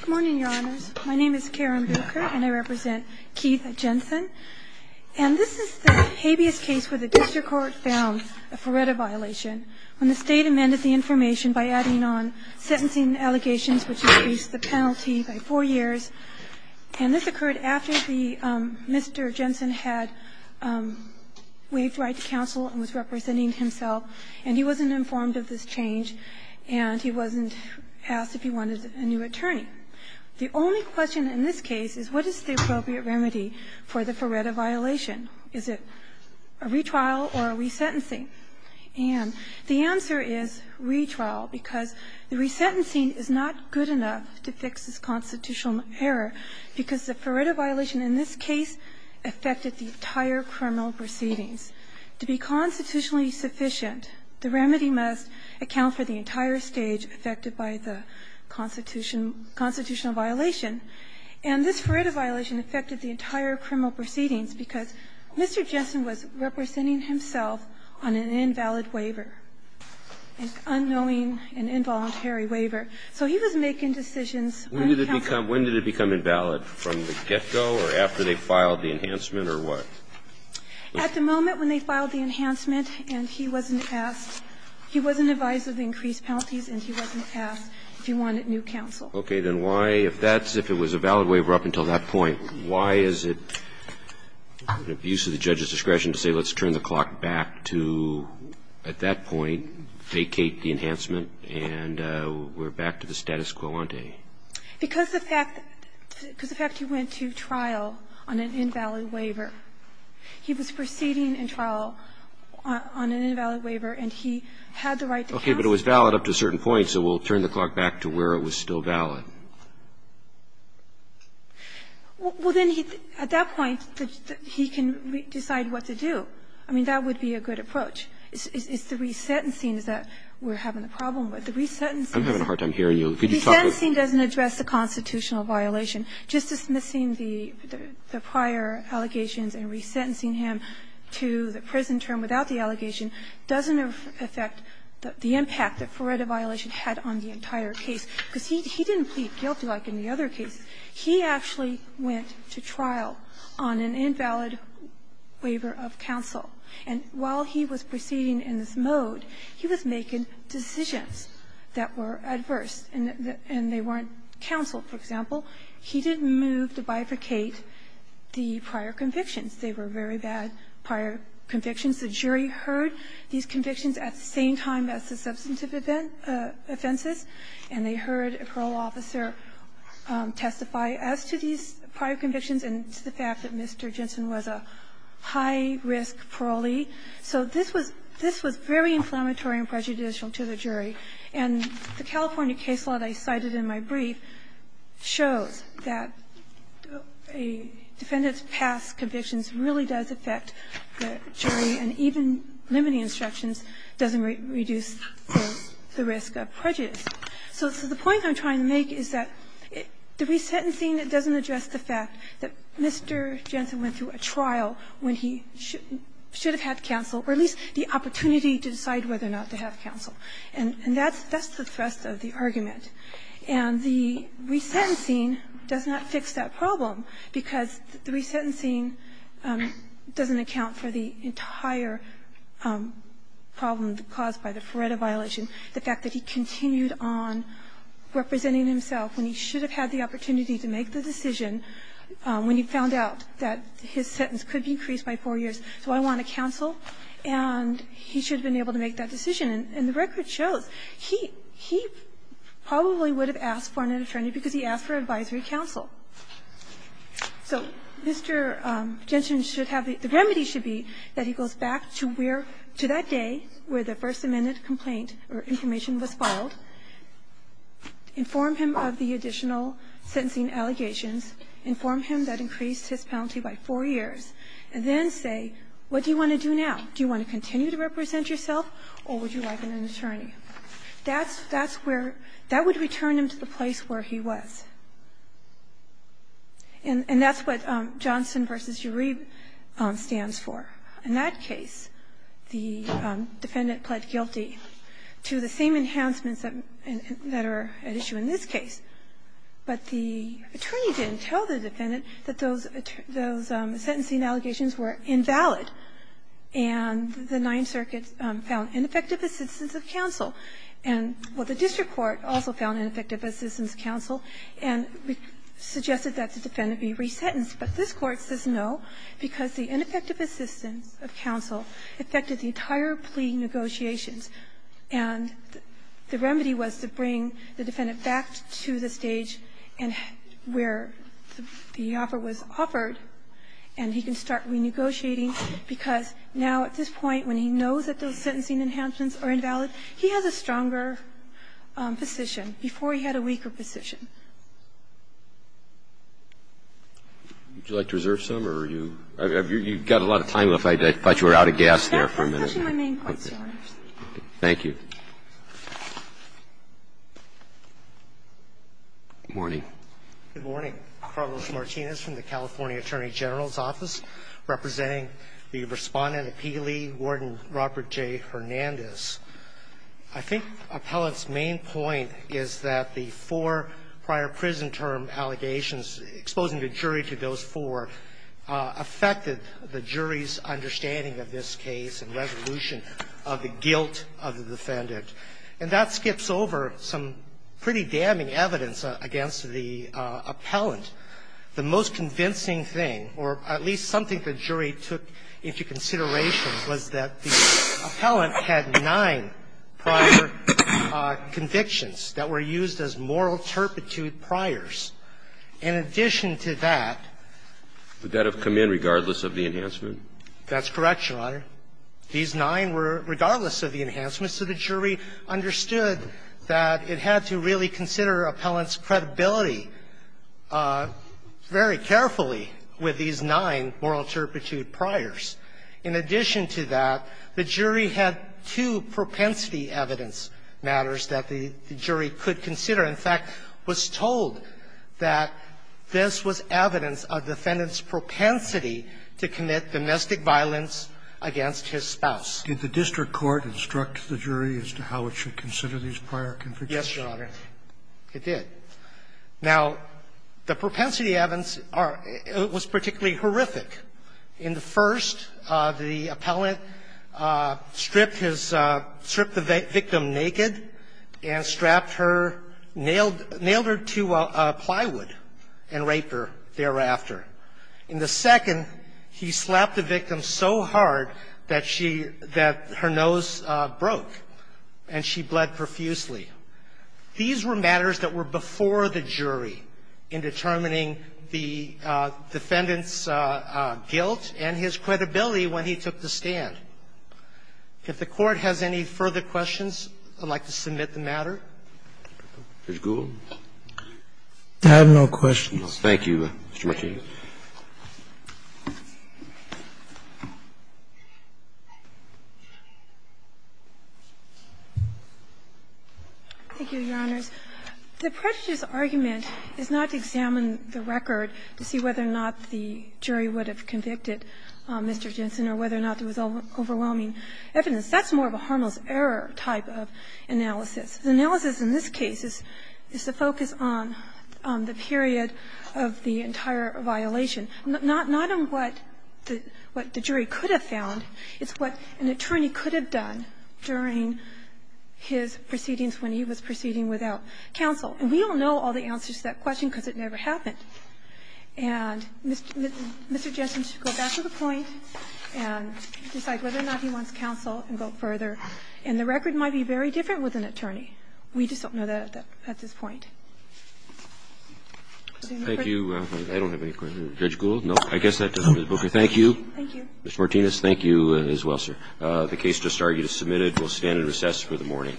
Good morning, your honors. My name is Karen Buecher and I represent Keith Jensen. And this is the habeas case where the district court found a FRERETA violation when the state amended the information by adding on sentencing allegations, which increased the penalty by four years. And this occurred after Mr. Jensen had waived right to counsel and was representing himself, and he wasn't informed of this change, and he wasn't asked if he wanted a new attorney. The only question in this case is what is the appropriate remedy for the FRERETA violation? Is it a retrial or a resentencing? And the answer is retrial, because the resentencing is not good enough to fix this constitutional error, because the FRERETA violation in this case affected the entire criminal proceedings. To be constitutionally sufficient, the remedy must account for the entire stage affected by the constitution of violation, and this FRERETA violation affected the entire criminal proceedings because Mr. Jensen was representing himself on an invalid waiver, an unknowing and involuntary waiver. So he was making decisions. When did it become invalid, from the get-go or after they filed the enhancement or what? At the moment when they filed the enhancement and he wasn't asked, he wasn't advised of the increased penalties and he wasn't asked if he wanted new counsel. Okay. Then why, if that's, if it was a valid waiver up until that point, why is it an abuse of the judge's discretion to say let's turn the clock back to, at that point, vacate the enhancement and we're back to the status quo ante? Because the fact that, because the fact he went to trial on an invalid waiver. He was proceeding in trial on an invalid waiver and he had the right to counsel. Okay. But it was valid up to a certain point, so we'll turn the clock back to where it was still valid. Well, then he, at that point, he can decide what to do. I mean, that would be a good approach. It's the resentencing that we're having a problem with. The resentencing is a problem. I'm having a hard time hearing you. Resentencing doesn't address the constitutional violation. Just dismissing the prior allegations and resentencing him to the prison term without the allegation doesn't affect the impact that Fureta violation had on the entire case, because he didn't plead guilty like in the other cases. He actually went to trial on an invalid waiver of counsel. And while he was proceeding in this mode, he was making decisions that were adverse and they weren't counseled, for example. He didn't move to bifurcate the prior convictions. They were very bad prior convictions. The jury heard these convictions at the same time as the substantive offenses. And they heard a parole officer testify as to these prior convictions and to the fact that Mr. Jensen was a high-risk parolee. So this was very inflammatory and prejudicial to the jury. And the California case law that I cited in my brief shows that a defendant's past convictions really does affect the jury, and even limiting instructions doesn't reduce the risk of prejudice. So the point I'm trying to make is that the resentencing doesn't address the fact that Mr. Jensen went through a trial when he should have had counsel, or at least the opportunity to decide whether or not to have counsel. And that's the thrust of the argument. And the resentencing does not fix that problem, because the resentencing doesn't account for the entire problem caused by the Feretta violation, the fact that he continued on representing himself when he should have had the opportunity to make the decision when he found out that his sentence could be increased by 4 years. So I want a counsel, and he should have been able to make that decision. And the record shows he probably would have asked for an attorney because he asked for advisory counsel. So Mr. Jensen should have the remedy should be that he goes back to where to that day where the First Amendment complaint or information was filed, inform him of the additional sentencing allegations, inform him that increased his penalty by 4 years, and then say, what do you want to do now? Do you want to continue to represent yourself, or would you like an attorney? That's where that would return him to the place where he was. And that's what Johnson v. Uribe stands for. In that case, the defendant pled guilty to the same enhancements that are at issue in this case, but the attorney didn't tell the defendant that those sentencing allegations were invalid, and the Ninth Circuit found ineffective assistance of counsel. And the district court also found ineffective assistance of counsel and suggested that the defendant be resentenced, but this Court says no because the ineffective assistance of counsel affected the entire plea negotiations, and the remedy was to bring the defendant back to the stage where the offer was offered, and he can start renegotiating because now at this point when he knows that those sentencing enhancements are invalid, he has a stronger position before he had a weaker position. Would you like to reserve some, or are you – you've got a lot of time left. I thought you were out of gas there for a minute. I'm pushing my main points, Your Honors. Thank you. Good morning. Good morning. Carlos Martinez from the California Attorney General's Office, representing the Respondent Appealee, Warden Robert J. Hernandez. I think Appellant's main point is that the four prior prison term allegations exposing the jury to those four affected the jury's understanding of this case and the delusion of the guilt of the defendant. And that skips over some pretty damning evidence against the appellant. The most convincing thing, or at least something the jury took into consideration, was that the appellant had nine prior convictions that were used as moral turpitude priors. In addition to that – Would that have come in regardless of the enhancement? That's correct, Your Honor. These nine were, regardless of the enhancements, so the jury understood that it had to really consider appellant's credibility very carefully with these nine moral turpitude priors. In addition to that, the jury had two propensity evidence matters that the jury could consider. In fact, was told that this was evidence of defendant's propensity to commit domestic violence against his spouse. Did the district court instruct the jury as to how it should consider these prior convictions? Yes, Your Honor, it did. Now, the propensity evidence was particularly horrific. In the first, the appellant stripped his – stripped the victim naked and strapped her, nailed her to plywood and raped her thereafter. In the second, he slapped the victim so hard that she – that her nose broke and she bled profusely. These were matters that were before the jury in determining the defendant's guilt and his credibility when he took the stand. If the Court has any further questions, I'd like to submit the matter. Mr. Gould. I have no questions. Thank you, Mr. Martinez. Thank you, Your Honors. The prejudice argument is not to examine the record to see whether or not the jury would have convicted Mr. Jensen or whether or not there was overwhelming evidence. That's more of a harmless error type of analysis. The analysis in this case is to focus on the period of the entire violation. Not on what the jury could have found. It's what an attorney could have done during his proceedings when he was proceeding without counsel. And we all know all the answers to that question because it never happened. And Mr. Jensen should go back to the point and decide whether or not he wants counsel and go further. And the record might be very different with an attorney. We just don't know that at this point. Thank you. I don't have any questions. Judge Gould? No? I guess that does it, Ms. Booker. Thank you. Thank you. Ms. Martinez, thank you as well, sir. The case just argued is submitted. We'll stand in recess for the morning.